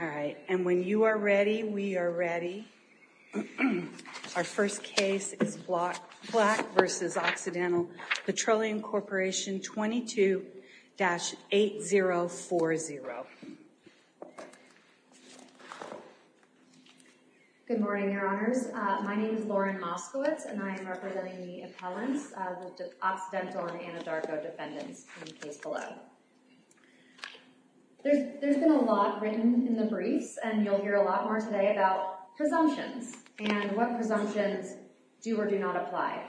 All right. And when you are ready, we are ready. Our first case is Black v. Occidental Petroleum Corporation 22-8040. Good morning, Your Honors. My name is Lauren Moskowitz, and I am representing the appellants, the Occidental and Anadarko defendants in the case below. There's been a lot written in the briefs, and you'll hear a lot more today about presumptions and what presumptions do or do not apply.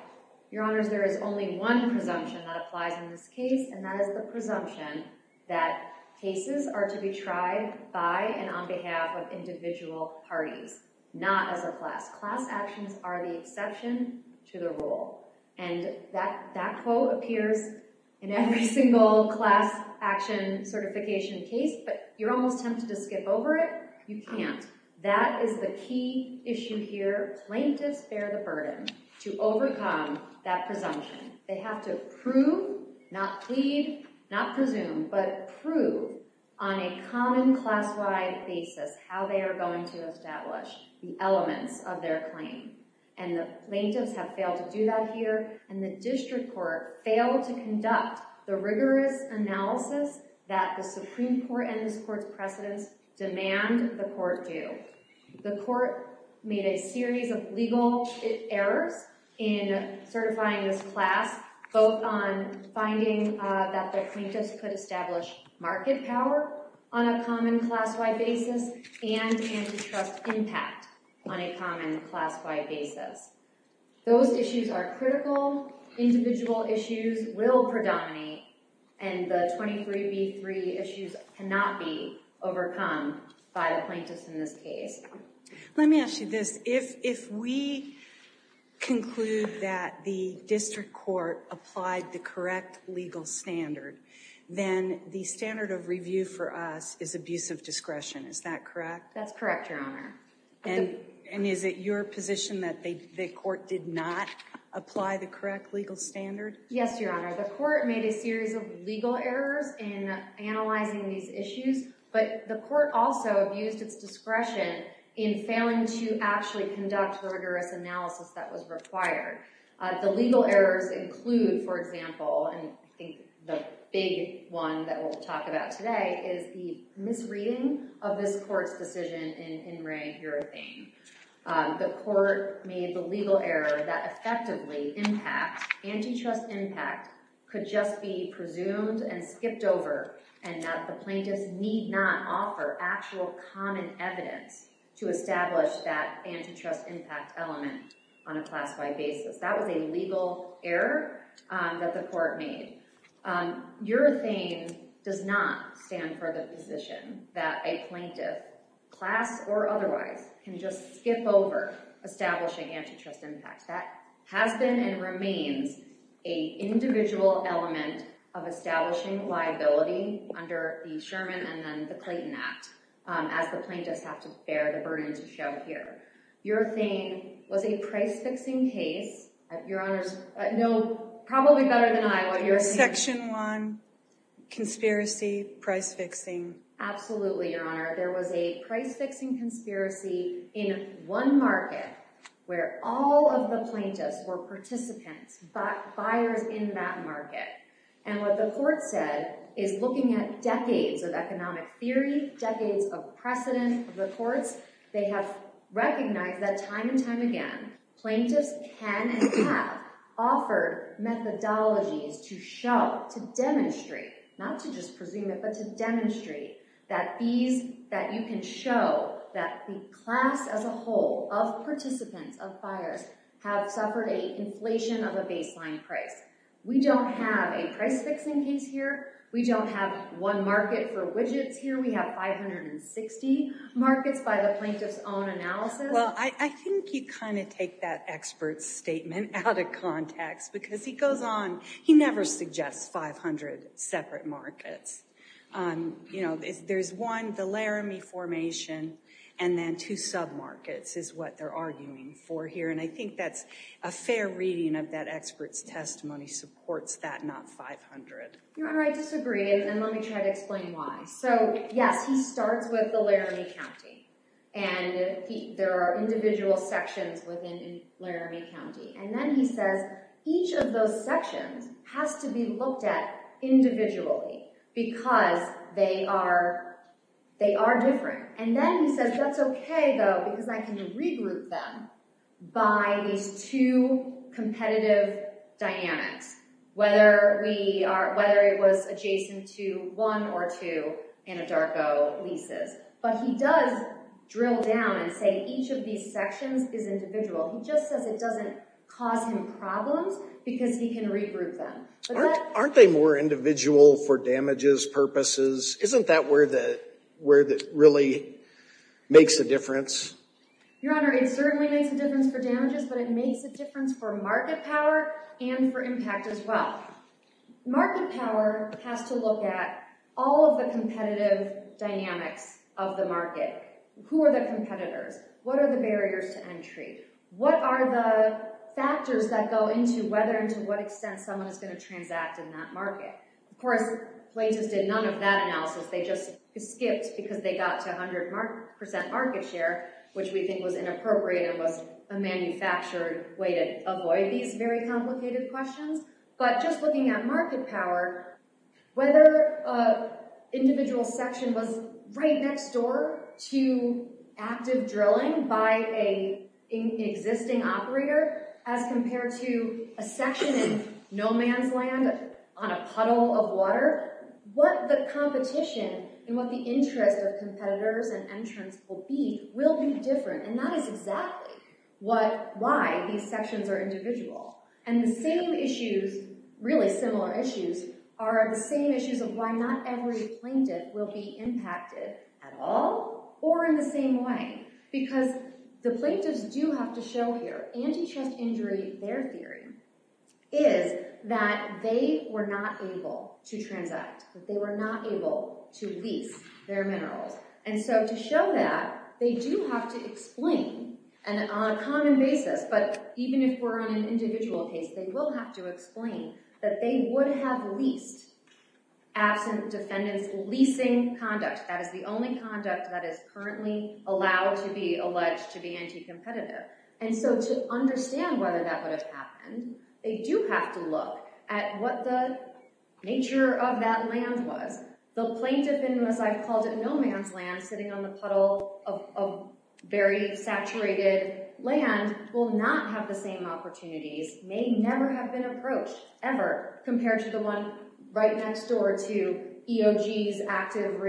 Your Honors, there is only one presumption that applies in this case, and that is the presumption that cases are to be tried by and on behalf of individual parties, not as a class. Class actions are the exception to the rule. And that quote appears in every single class action certification case, but you're almost tempted to skip over it. You can't. That is the key issue here. Plaintiffs bear the burden to overcome that presumption. They have to prove, not plead, not presume, but prove on a common class-wide basis how they are going to establish the elements of their claim. And the plaintiffs have failed to do that here, and the district court failed to conduct the rigorous analysis that the Supreme Court and this court's precedents demand the court do. The court made a series of legal errors in certifying this class, both on finding that the plaintiffs could establish market power on a common class-wide basis and antitrust impact on a common class-wide basis. Those issues are critical. Individual issues will predominate, and the 23B3 issues cannot be overcome by the plaintiffs in this case. Let me ask you this. If we conclude that the district court applied the correct legal standard, then the standard of review for us is abuse of discretion. Is that correct? That's correct, Your Honor. And is it your position that the court did not apply the correct legal standard? Yes, Your Honor. The court made a series of legal errors in analyzing these issues, but the court also abused its discretion in failing to actually conduct the rigorous analysis that was required. The legal errors include, for example, and I think the big one that we'll talk about today is the misreading of this court's decision in Wray-Urethane. The court made the legal error that effectively impact, antitrust impact could just be presumed and skipped over and that the plaintiffs need not offer actual common evidence to establish that antitrust impact element on a class-wide basis. That was a legal error that the court made. Urethane does not stand for the position that a plaintiff, class or otherwise, can just skip over establishing antitrust impact. That has been and remains a individual element of establishing liability under the Sherman and then the Clayton Act, as the plaintiffs have to bear the burden to show here. Urethane was a price-fixing case. Your Honors know probably better than I about your section one conspiracy price-fixing. Absolutely, Your Honor. There was a price-fixing conspiracy in one market where all of the plaintiffs were participants, buyers in that market. And what the court said is looking at decades of economic theory, decades of precedent. The courts, they have recognized that time and time again, plaintiffs can and have offered methodologies to demonstrate, not to just presume it, but to demonstrate that you can show that the class as a whole of participants, of buyers, have suffered a inflation of a baseline price. We don't have a price-fixing case here. We don't have one market for widgets here. We have 560 markets by the plaintiff's own analysis. Well, I think you kind of take that expert's statement out of context because he goes on. He never suggests 500 separate markets. There's one, the Laramie Formation, and then two sub-markets is what they're arguing for here. And I think that's a fair reading of that expert's testimony supports that, not 500. Your Honor, I disagree, and let me try to explain why. So yes, he starts with the Laramie County. And there are individual sections within Laramie County. And then he says, each of those sections has to be looked at individually because they are different. And then he says, that's okay though because I can regroup them by these two competitive dynamics, whether it was adjacent to one or two Anadarko leases. But he does drill down and say, each of these sections is individual. He just says it doesn't cause him problems because he can regroup them. Aren't they more individual for damages purposes? Isn't that where that really makes a difference? Your Honor, it certainly makes a difference for damages, but it makes a difference for market power and for impact as well. Market power has to look at all of the competitive dynamics of the market. Who are the competitors? What are the barriers to entry? What are the factors that go into whether and to what extent someone is gonna transact in that market? Of course, plaintiffs did none of that analysis. They just skipped because they got to 100% market share, which we think was inappropriate and was a manufactured way to avoid these very complicated questions. But just looking at market power, whether individual section was right next door to active drilling by an existing operator as compared to a section in no man's land on a puddle of water, what the competition and what the interest of competitors and entrants will be will be different. And that is exactly why these sections are individual. And the same issues, really similar issues, are the same issues of why not every plaintiff will be impacted at all or in the same way. Because the plaintiffs do have to show here, antichest injury, their theory, is that they were not able to transact, that they were not able to lease their minerals. And so to show that, they do have to explain on a common basis, but even if we're on an individual case, they will have to explain that they would have leased absent defendants leasing conduct. That is the only conduct that is currently allowed to be alleged to be anti-competitive. And so to understand whether that would have happened, they do have to look at what the nature of that land was. The plaintiff in this, I've called it no man's land, sitting on the puddle of very saturated land will not have the same opportunities, may never have been approached ever compared to the one right next door to EOG's active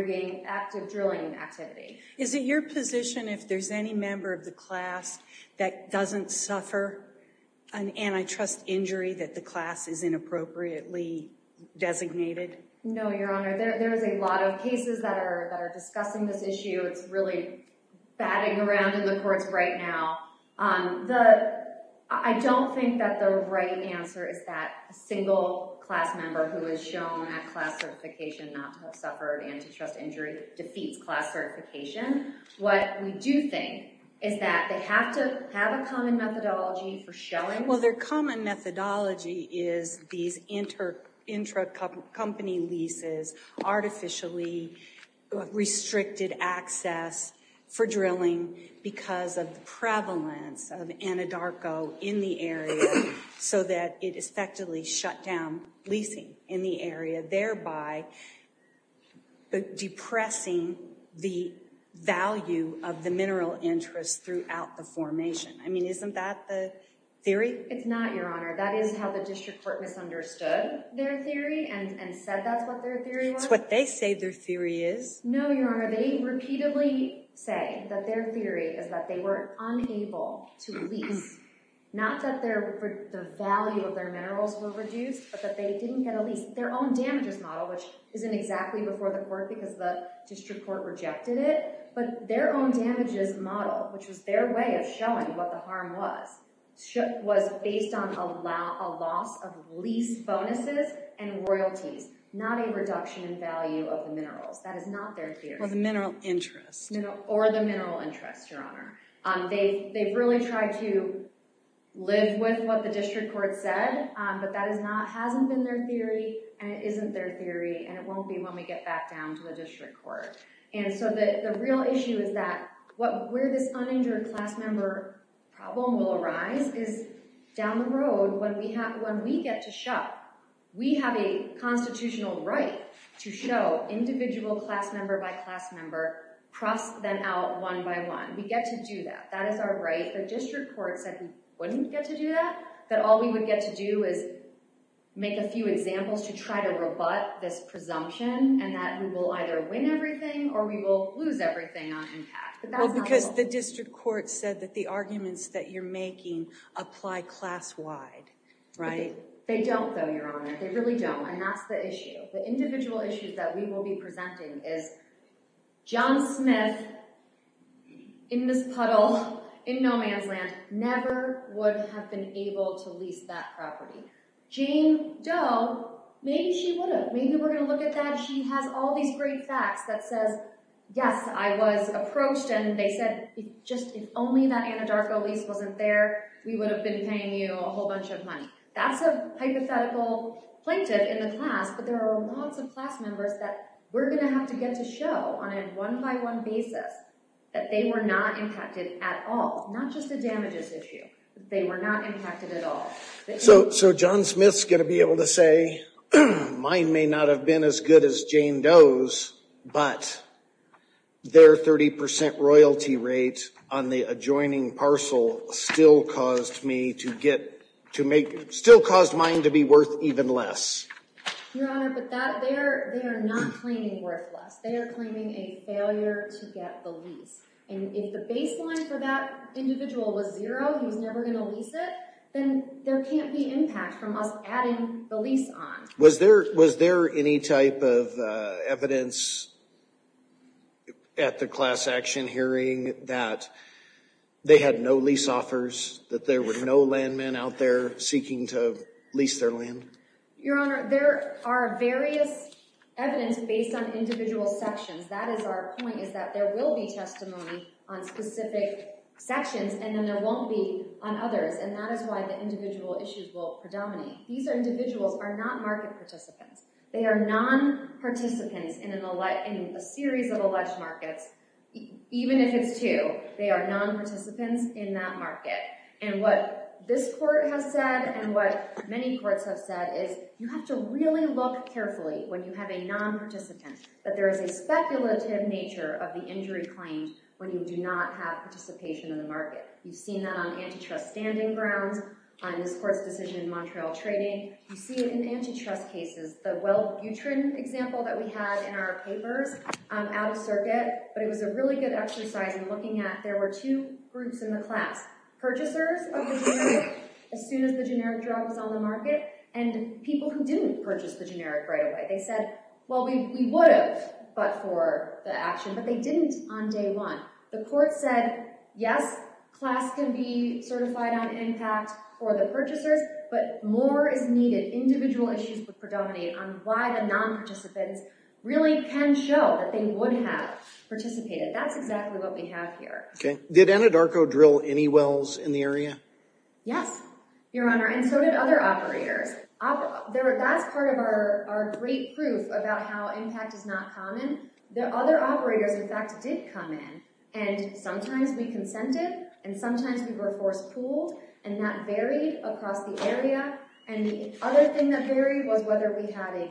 drilling activity. Is it your position if there's any member of the class that doesn't suffer an antitrust injury that the class is inappropriately designated? No, Your Honor, there is a lot of cases that are discussing this issue. It's really batting around in the courts right now. I don't think that the right answer is that a single class member who has shown that class certification not to have suffered antitrust injury defeats class certification. What we do think is that they have to have a common methodology for showing. Well, their common methodology is these intra-company leases artificially restricted access for drilling because of the prevalence of Anadarko in the area so that it effectively shut down leasing in the area, thereby depressing the value of the mineral interest throughout the formation. I mean, isn't that the theory? It's not, Your Honor. That is how the district court misunderstood their theory and said that's what their theory was. It's what they say their theory is. No, Your Honor, they repeatedly say that their theory is that they were unable to lease, not that the value of their minerals were reduced, but that they didn't get a lease. Their own damages model, which isn't exactly before the court because the district court rejected it, but their own damages model, which was their way of showing what the harm was, was based on a loss of lease bonuses and royalties, not a reduction in value of the minerals. That is not their theory. Or the mineral interest. Or the mineral interest, Your Honor. They really tried to live with what the district court said, but that hasn't been their theory, and it isn't their theory, and it won't be when we get back down to the district court. And so the real issue is that where this uninjured class member problem will arise is down the road when we get to shut, we have a constitutional right to show individual class member by class member, cross them out one by one. We get to do that. That is our right. The district court said we wouldn't get to do that, that all we would get to do is make a few examples to try to rebut this presumption, and that we will either win everything or we will lose everything on impact. But that's not the point. Well, because the district court said that the arguments that you're making apply class-wide, right? They don't, though, Your Honor. They really don't, and that's the issue. The individual issues that we will be presenting is John Smith, in this puddle, in no man's land, never would have been able to lease that property. Jane Doe, maybe she would have. Maybe we're gonna look at that. She has all these great facts that says, yes, I was approached and they said, just if only that Anadarko lease wasn't there, we would have been paying you a whole bunch of money. That's a hypothetical plaintiff in the class, but there are lots of class members that we're gonna have to get to show on a one-by-one basis that they were not impacted at all, not just the damages issue. They were not impacted at all. So John Smith's gonna be able to say, mine may not have been as good as Jane Doe's, but their 30% royalty rate on the adjoining parcel still caused mine to be worth even less. Your Honor, but they are not claiming worth less. They are claiming a failure to get the lease. And if the baseline for that individual was zero, he's never gonna lease it, then there can't be impact from us adding the lease on. Was there any type of evidence at the class action hearing that they had no lease offers, that there were no landmen out there seeking to lease their land? Your Honor, there are various evidence based on individual sections. That is our point, is that there will be testimony on specific sections, and then there won't be on others. And that is why the individual issues will predominate. These individuals are not market participants. They are non-participants in a series of alleged markets, even if it's two, they are non-participants in that market. And what this court has said, and what many courts have said, is you have to really look carefully when you have a non-participant, that there is a speculative nature of the injury claim when you do not have participation in the market. You've seen that on antitrust standing grounds, on this court's decision in Montreal Trading. You see it in antitrust cases, the Weld-Butrin example that we had in our papers, out of circuit, but it was a really good exercise in looking at, there were two groups in the class, purchasers of the generic, as soon as the generic drug was on the market, and people who didn't purchase the generic right away. They said, well, we would have, but for the action, but they didn't on day one. The court said, yes, class can be certified on impact for the purchasers, but more is needed. Individual issues would predominate on why the non-participants really can show that they would have participated. That's exactly what we have here. Did Anadarko drill any wells in the area? Yes, Your Honor, and so did other operators. That's part of our great proof about how impact is not common. The other operators, in fact, did come in, and sometimes we consented, and sometimes we were force-pulled, and that varied across the area, and the other thing that varied was whether we had a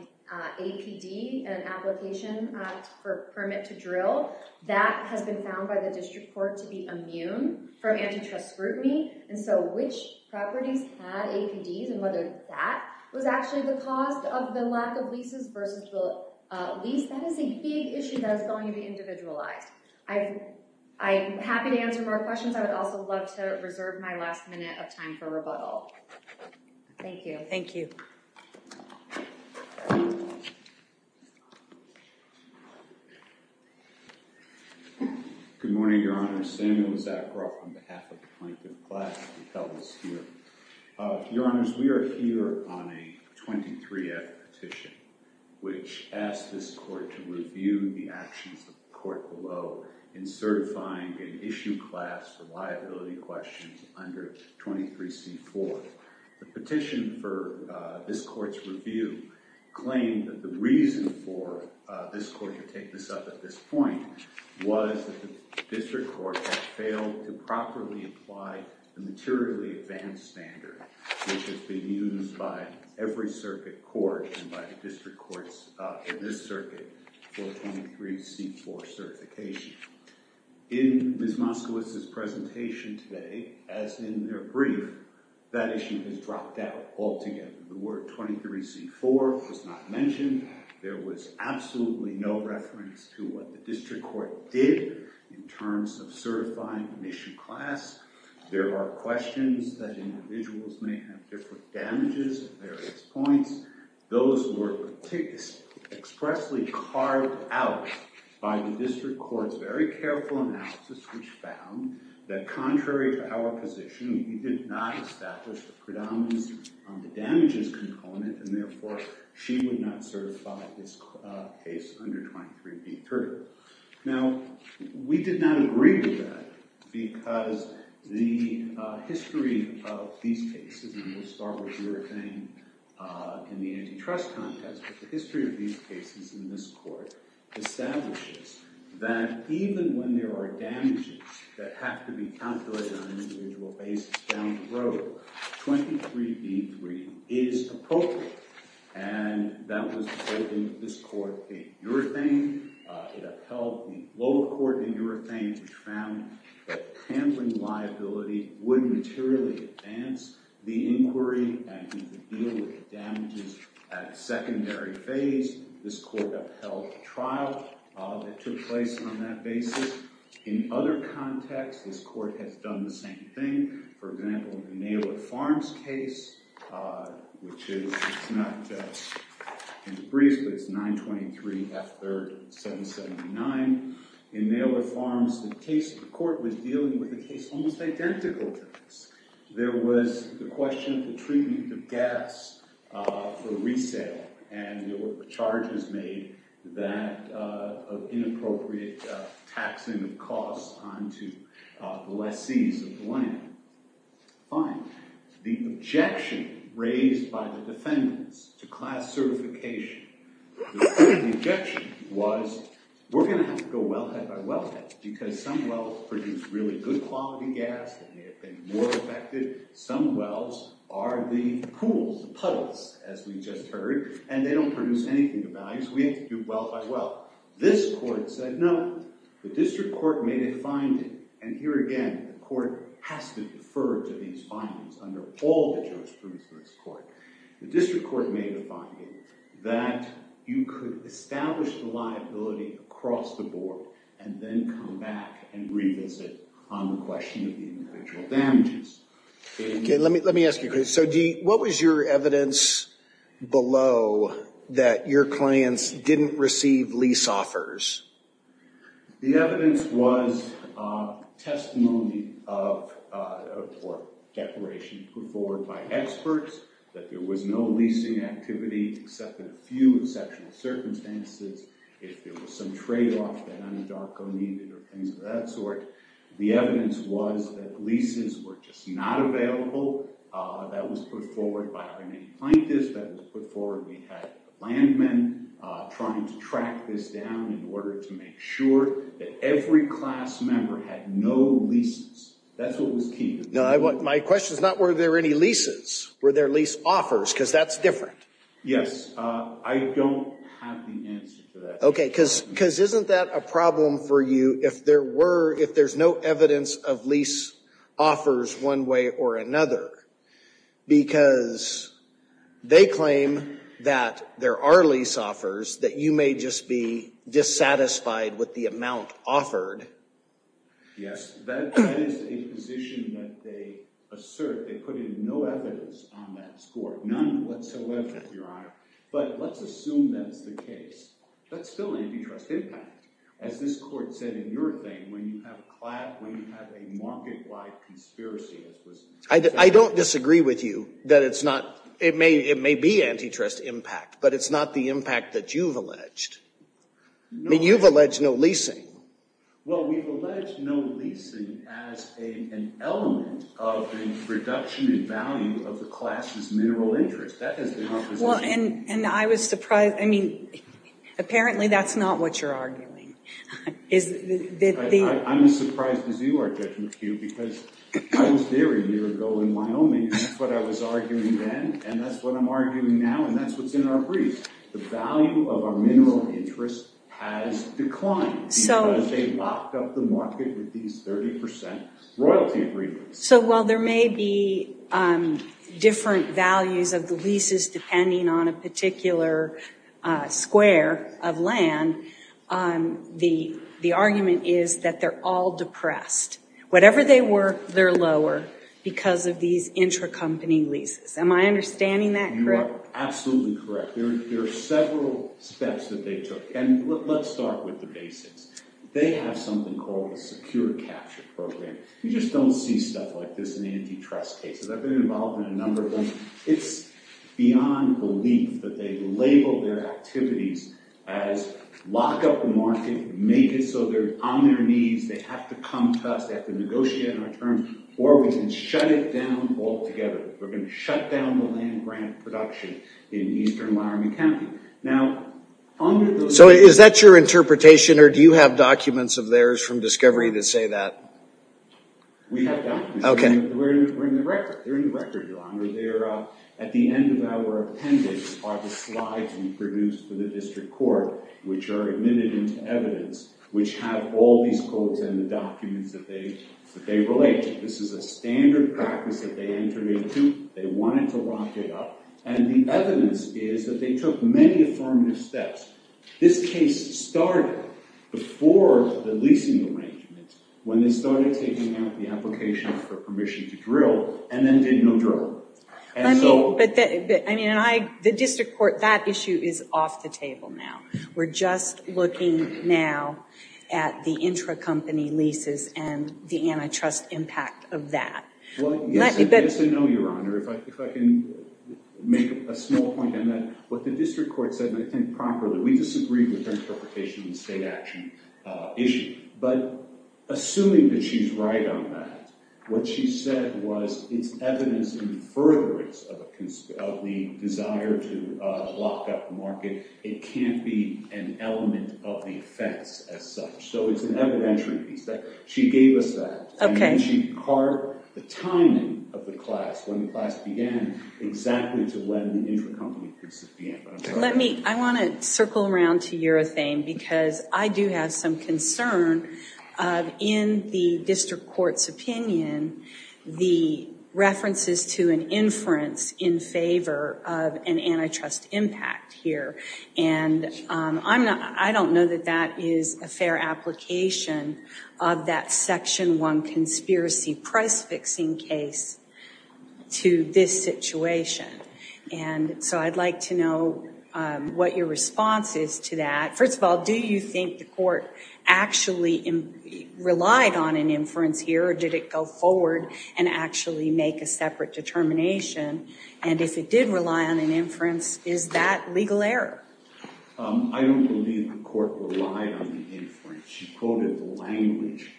APD, an Application for Permit to Drill. That has been found by the district court to be immune from antitrust scrutiny, and so which properties had APDs, and whether that was actually the cause of the lack of leases versus the lease. That is a big issue that is going to be individualized. I'm happy to answer more questions. I would also love to reserve my last minute of time for rebuttal. Thank you. Thank you. Good morning, Your Honor. Samuel Zagbrock on behalf of the Plankton class to tell us here. Your Honors, we are here on a 23F petition, which asked this court to review the actions of the court below in certifying an issue class for liability questions under 23C4. The petition for this court's review claimed that the reason for this court to take this up at this point was that the district court had failed to properly apply the materially advanced standard which has been used by every circuit court and by the district courts in this circuit for 23C4 certification. In Ms. Moskowitz's presentation today, as in her brief, that issue has dropped out altogether. The word 23C4 was not mentioned. There was absolutely no reference to what the district court did in terms of certifying an issue class. There are questions that individuals may have different damages at various points. Those were expressly carved out by the district court's very careful analysis which found that contrary to our position, we did not establish the predominance on the damages component, and therefore, she would not certify this case under 23B3. Now, we did not agree with that because the history of these cases, and we'll start with your thing in the antitrust context, but the history of these cases in this court establishes that even when there are damages that have to be calculated on an individual basis down the road, 23B3 is appropriate, and that was the statement of this court in your thing. It upheld the lower court in your thing which found that handling liability would materially advance the inquiry and deal with the damages at secondary phase. This court upheld the trial that took place on that basis. In other contexts, this court has done the same thing for example, in the Naylor Farms case, which is, it's not in the briefs, but it's 923 F3rd 779. In Naylor Farms, the case, the court was dealing with a case almost identical to this. There was the question of the treatment of gas for resale, and there were charges made that of inappropriate taxing of costs on to the lessees of the land. Fine, the objection raised by the defendants to class certification, the objection was, we're gonna have to go wellhead by wellhead because some wells produce really good quality gas that may have been more effective. Some wells are the pools, puddles, as we just heard, and they don't produce anything of value, so we have to do well by well. This court said no. The district court made a finding, and here again, the court has to defer to these findings under all the jurisprudence of this court. The district court made a finding that you could establish the liability across the board, and then come back and revisit on the question of the individual damages. Okay, let me ask you, so what was your evidence below that your clients didn't receive lease offers? The evidence was testimony of, or declaration put forward by experts that there was no leasing activity except in a few exceptional circumstances. If there was some trade-off that Anadarko needed or things of that sort, the evidence was that leases were just not available. That was put forward by our main plaintiffs. That was put forward, we had landmen trying to track this down in order to make sure that every class member had no leases. That's what was key. My question is not were there any leases, were there lease offers, because that's different. Yes, I don't have the answer for that. Okay, because isn't that a problem for you if there's no evidence of lease offers one way or another, because they claim that there are lease offers that you may just be dissatisfied with the amount offered? Yes, that is a position that they assert. They put in no evidence on that score, none whatsoever, Your Honor. But let's assume that's the case. That's still an antitrust impact. As this court said in your thing, when you have a market-wide conspiracy, I don't disagree with you that it's not, it may be antitrust impact, but it's not the impact that you've alleged. I mean, you've alleged no leasing. Well, we've alleged no leasing as an element of the reduction in value of the class's mineral interest. That has been our position. And I was surprised, I mean, apparently that's not what you're arguing. I'm as surprised as you are, Judge McHugh, because I was there a year ago in Wyoming, and that's what I was arguing then, and that's what I'm arguing now, and that's what's in our brief. The value of our mineral interest has declined because they locked up the market with these 30% royalty agreements. So while there may be different values of the leases depending on a particular square of land, the argument is that they're all depressed. Whatever they were, they're lower because of these intracompany leases. Am I understanding that correct? You are absolutely correct. There are several steps that they took, and let's start with the basics. They have something called a secure capture program. You just don't see stuff like this in antitrust cases. I've been involved in a number of them. It's beyond belief that they label their activities as lock up the market, make it so they're on their knees, they have to come to us, they have to negotiate on a term, or we can shut it down altogether. We're gonna shut down the land grant production in eastern Wyoming County. Now, under those- So is that your interpretation, or do you have documents of theirs from discovery that say that? We have documents. Okay. We're in the record. They're in the record, Your Honor. At the end of our appendix are the slides we produced for the district court which are admitted into evidence which have all these codes and the documents that they relate to. This is a standard practice that they entered into. They wanted to lock it up, and the evidence is that they took many affirmative steps. This case started before the leasing arrangement when they started taking out the application for permission to drill, and then did no drill. And so- The district court, that issue is off the table now. We're just looking now at the intra-company leases and the antitrust impact of that. Well, yes and no, Your Honor. If I can make a small point on that. What the district court said, and I think properly, we disagreed with their interpretation of the state action issue. But assuming that she's right on that, what she said was it's evidence in furtherance of the desire to lock up the market. It can't be an element of the offense as such. So it's an evidentiary piece. She gave us that, and then she carved the timing of the class, when the class began, exactly to when the intra-company leases began. I want to circle around to your thing because I do have some concern in the district court's opinion, the references to an inference in favor of an antitrust impact here. And I don't know that that is a fair application of that section one conspiracy price-fixing case to this situation. And so I'd like to know what your response is to that. First of all, do you think the court actually relied on an inference here, or did it go forward and actually make a separate determination? And if it did rely on an inference, is that legal error? I don't believe the court relied on the inference. She quoted the language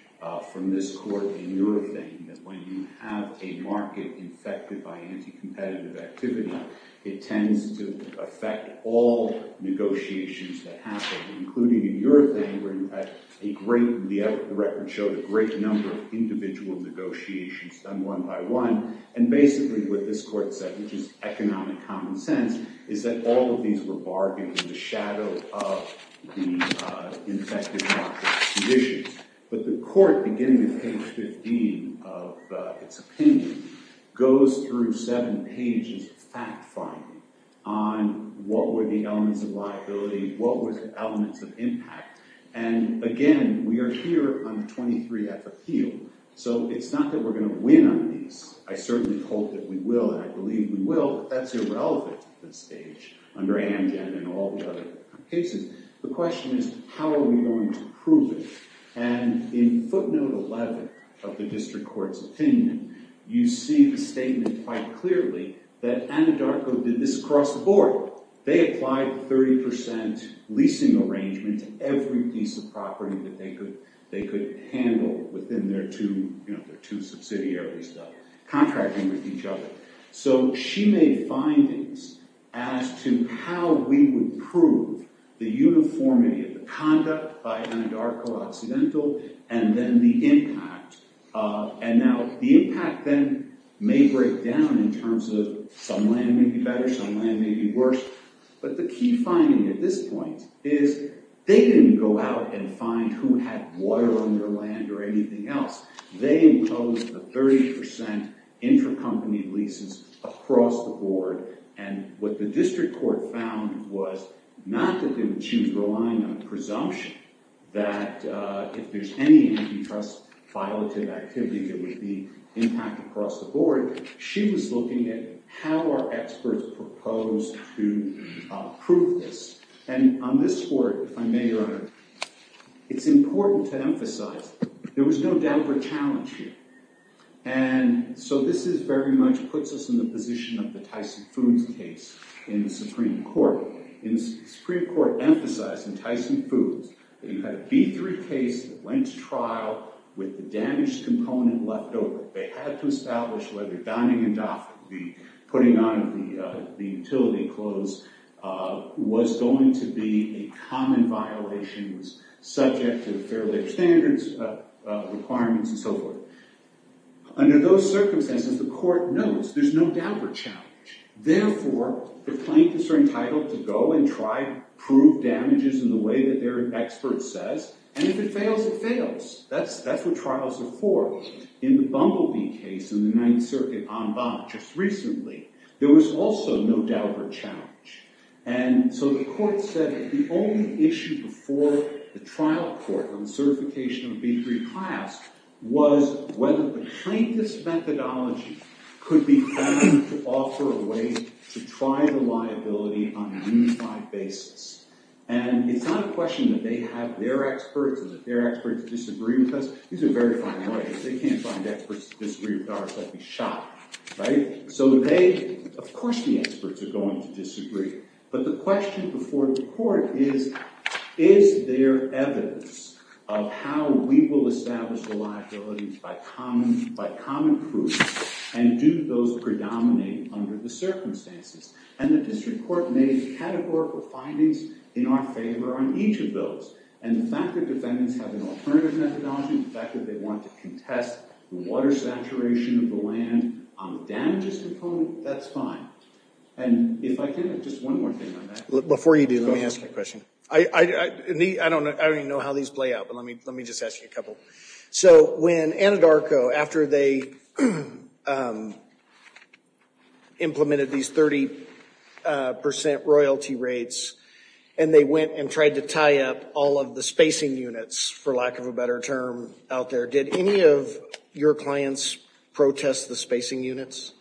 from this court in your thing that when you have a market infected by anti-competitive activity, it tends to affect all negotiations that happen, including in your thing where you had a great, the record showed a great number of individual negotiations done one by one. And basically what this court said, which is economic common sense, is that all of these were bargained in the shadow of the infected market conditions. But the court, beginning with page 15 of its opinion, goes through seven pages of fact-finding on what were the elements of liability, what were the elements of impact. And again, we are here on 23 F appeal, so it's not that we're gonna win on these. I certainly hope that we will, and I believe we will, but that's irrelevant at this stage, under Amgen and all the other cases. The question is, how are we going to prove it? And in footnote 11 of the district court's opinion, you see the statement quite clearly that Anadarko did this across the board. They applied the 30% leasing arrangement to every piece of property that they could handle within their two subsidiaries contracting with each other. So she made findings as to how we would prove the uniformity of the conduct by Anadarko Occidental and then the impact. And now, the impact then may break down in terms of some land may be better, some land may be worse. But the key finding at this point is they didn't go out and find who had water on their land or anything else. They imposed a 30% intercompany leases across the board. And what the district court found was not that they would choose relying on presumption, that if there's any antitrust violative activity there would be impact across the board. She was looking at how our experts proposed to prove this. And on this court, if I may, Your Honor, it's important to emphasize there was no damper challenge here. And so this is very much puts us in the position of the Tyson Foods case in the Supreme Court. In the Supreme Court, emphasizing Tyson Foods, that you had a B3 case that went to trial with the damaged component left over. They had to establish whether dining and doffing, putting on the utility clothes was going to be a common violation, was subject to the Fair Labor Standards requirements and so forth. Under those circumstances, the court knows there's no damper challenge. Therefore, the plaintiffs are entitled to go and try to prove damages in the way that their expert says. And if it fails, it fails. That's what trials are for. In the Bumblebee case in the Ninth Circuit, on Bonner just recently, there was also no damper challenge. And so the court said that the only issue before the trial court on the certification of B3 class was whether the plaintiff's methodology could be found to offer a way to try the liability on a unified basis. And it's not a question that they have their experts and that their experts disagree with us. These are very fine lawyers. They can't find experts to disagree with ours. They'd be shot, right? So they, of course the experts are going to disagree. But the question before the court is, is there evidence of how we will establish the liabilities by common proof? And do those predominate under the circumstances? And the district court made categorical findings in our favor on each of those. And the fact that defendants have an alternative methodology, the fact that they want to contest water saturation of the land on the damages component, that's fine. And if I can, just one more thing on that. Before you do, let me ask you a question. I don't even know how these play out, but let me just ask you a couple. So when Anadarko, after they implemented these 30% royalty rates, and they went and tried to tie up all of the spacing units, for lack of a better term, out there, did any of your clients protest the spacing units?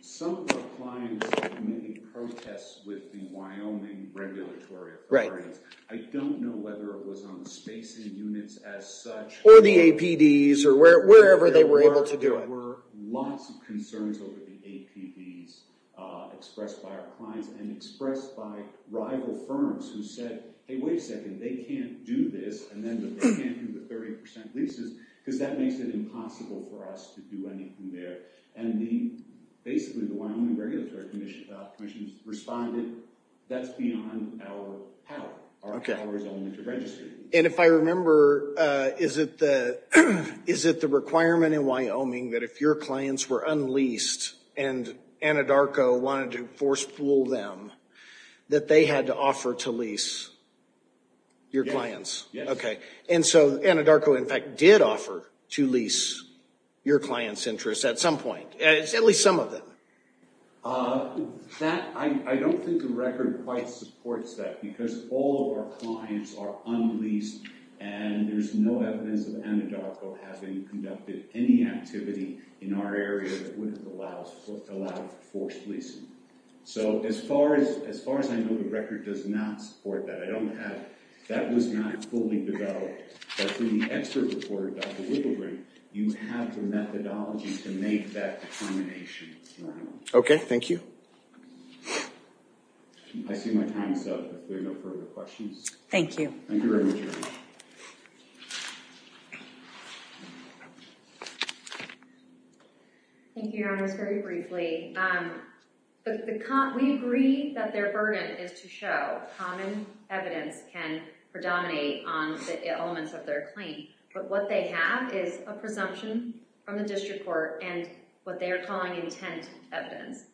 Some of our clients made protests with the Wyoming regulatory authorities. I don't know whether it was on the spacing units as such. Or the APDs, or wherever they were able to do it. There were lots of concerns over the APDs expressed by our clients, and expressed by rival firms who said, hey, wait a second. They can't do this. And then they can't do the 30% leases, because that makes it impossible for us to do anything there. And basically, the Wyoming Regulatory Commission responded, that's beyond our power. Our power is only to register. And if I remember, is it the requirement in Wyoming that if your clients were unleased, and Anadarko wanted to force-pool them, that they had to offer to lease your clients? And so Anadarko, in fact, did offer to lease your clients' interests at some point. At least some of them. I don't think the record quite supports that, because all of our clients are unleased. And there's no evidence of Anadarko having conducted any activity in our area that would have allowed forced leasing. So as far as I know, the record does not support that. That was not fully developed. But from the expert report of Dr. Wigglegreen, you have the methodology to make that determination. Okay, thank you. I see my time is up. If there are no further questions. Thank you. Thank you very much, ma'am. Thank you, Your Honors. Very briefly, we agree that their burden is to show common evidence can predominate on the elements of their claim. But what they have is a presumption from the district court and what they are calling intent evidence.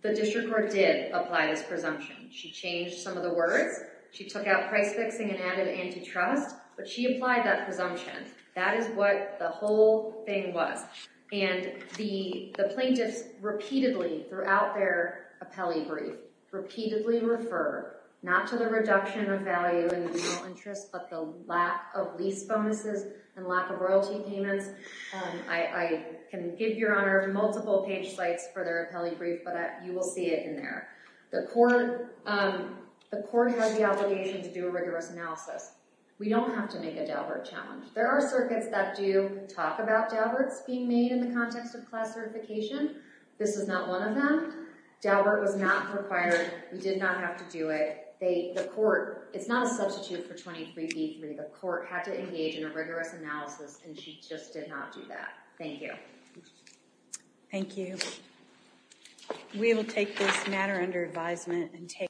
The district court did apply this presumption. She changed some of the words. She took out price fixing and added antitrust. But she applied that presumption. That is what the whole thing was. And the plaintiffs repeatedly, throughout their appellee brief, repeatedly refer not to the reduction of value in the legal interest, but the lack of lease bonuses and lack of royalty payments. I can give Your Honor multiple page sites for their appellee brief, but you will see it in there. The court had the obligation to do a rigorous analysis. We don't have to make a Daubert challenge. There are circuits that do talk about Dauberts being made in the context of class certification. This is not one of them. Daubert was not required. We did not have to do it. The court, it's not a substitute for 23B3. The court had to engage in a rigorous analysis and she just did not do that. Thank you. Thank you. We will take this matter under advisement and take.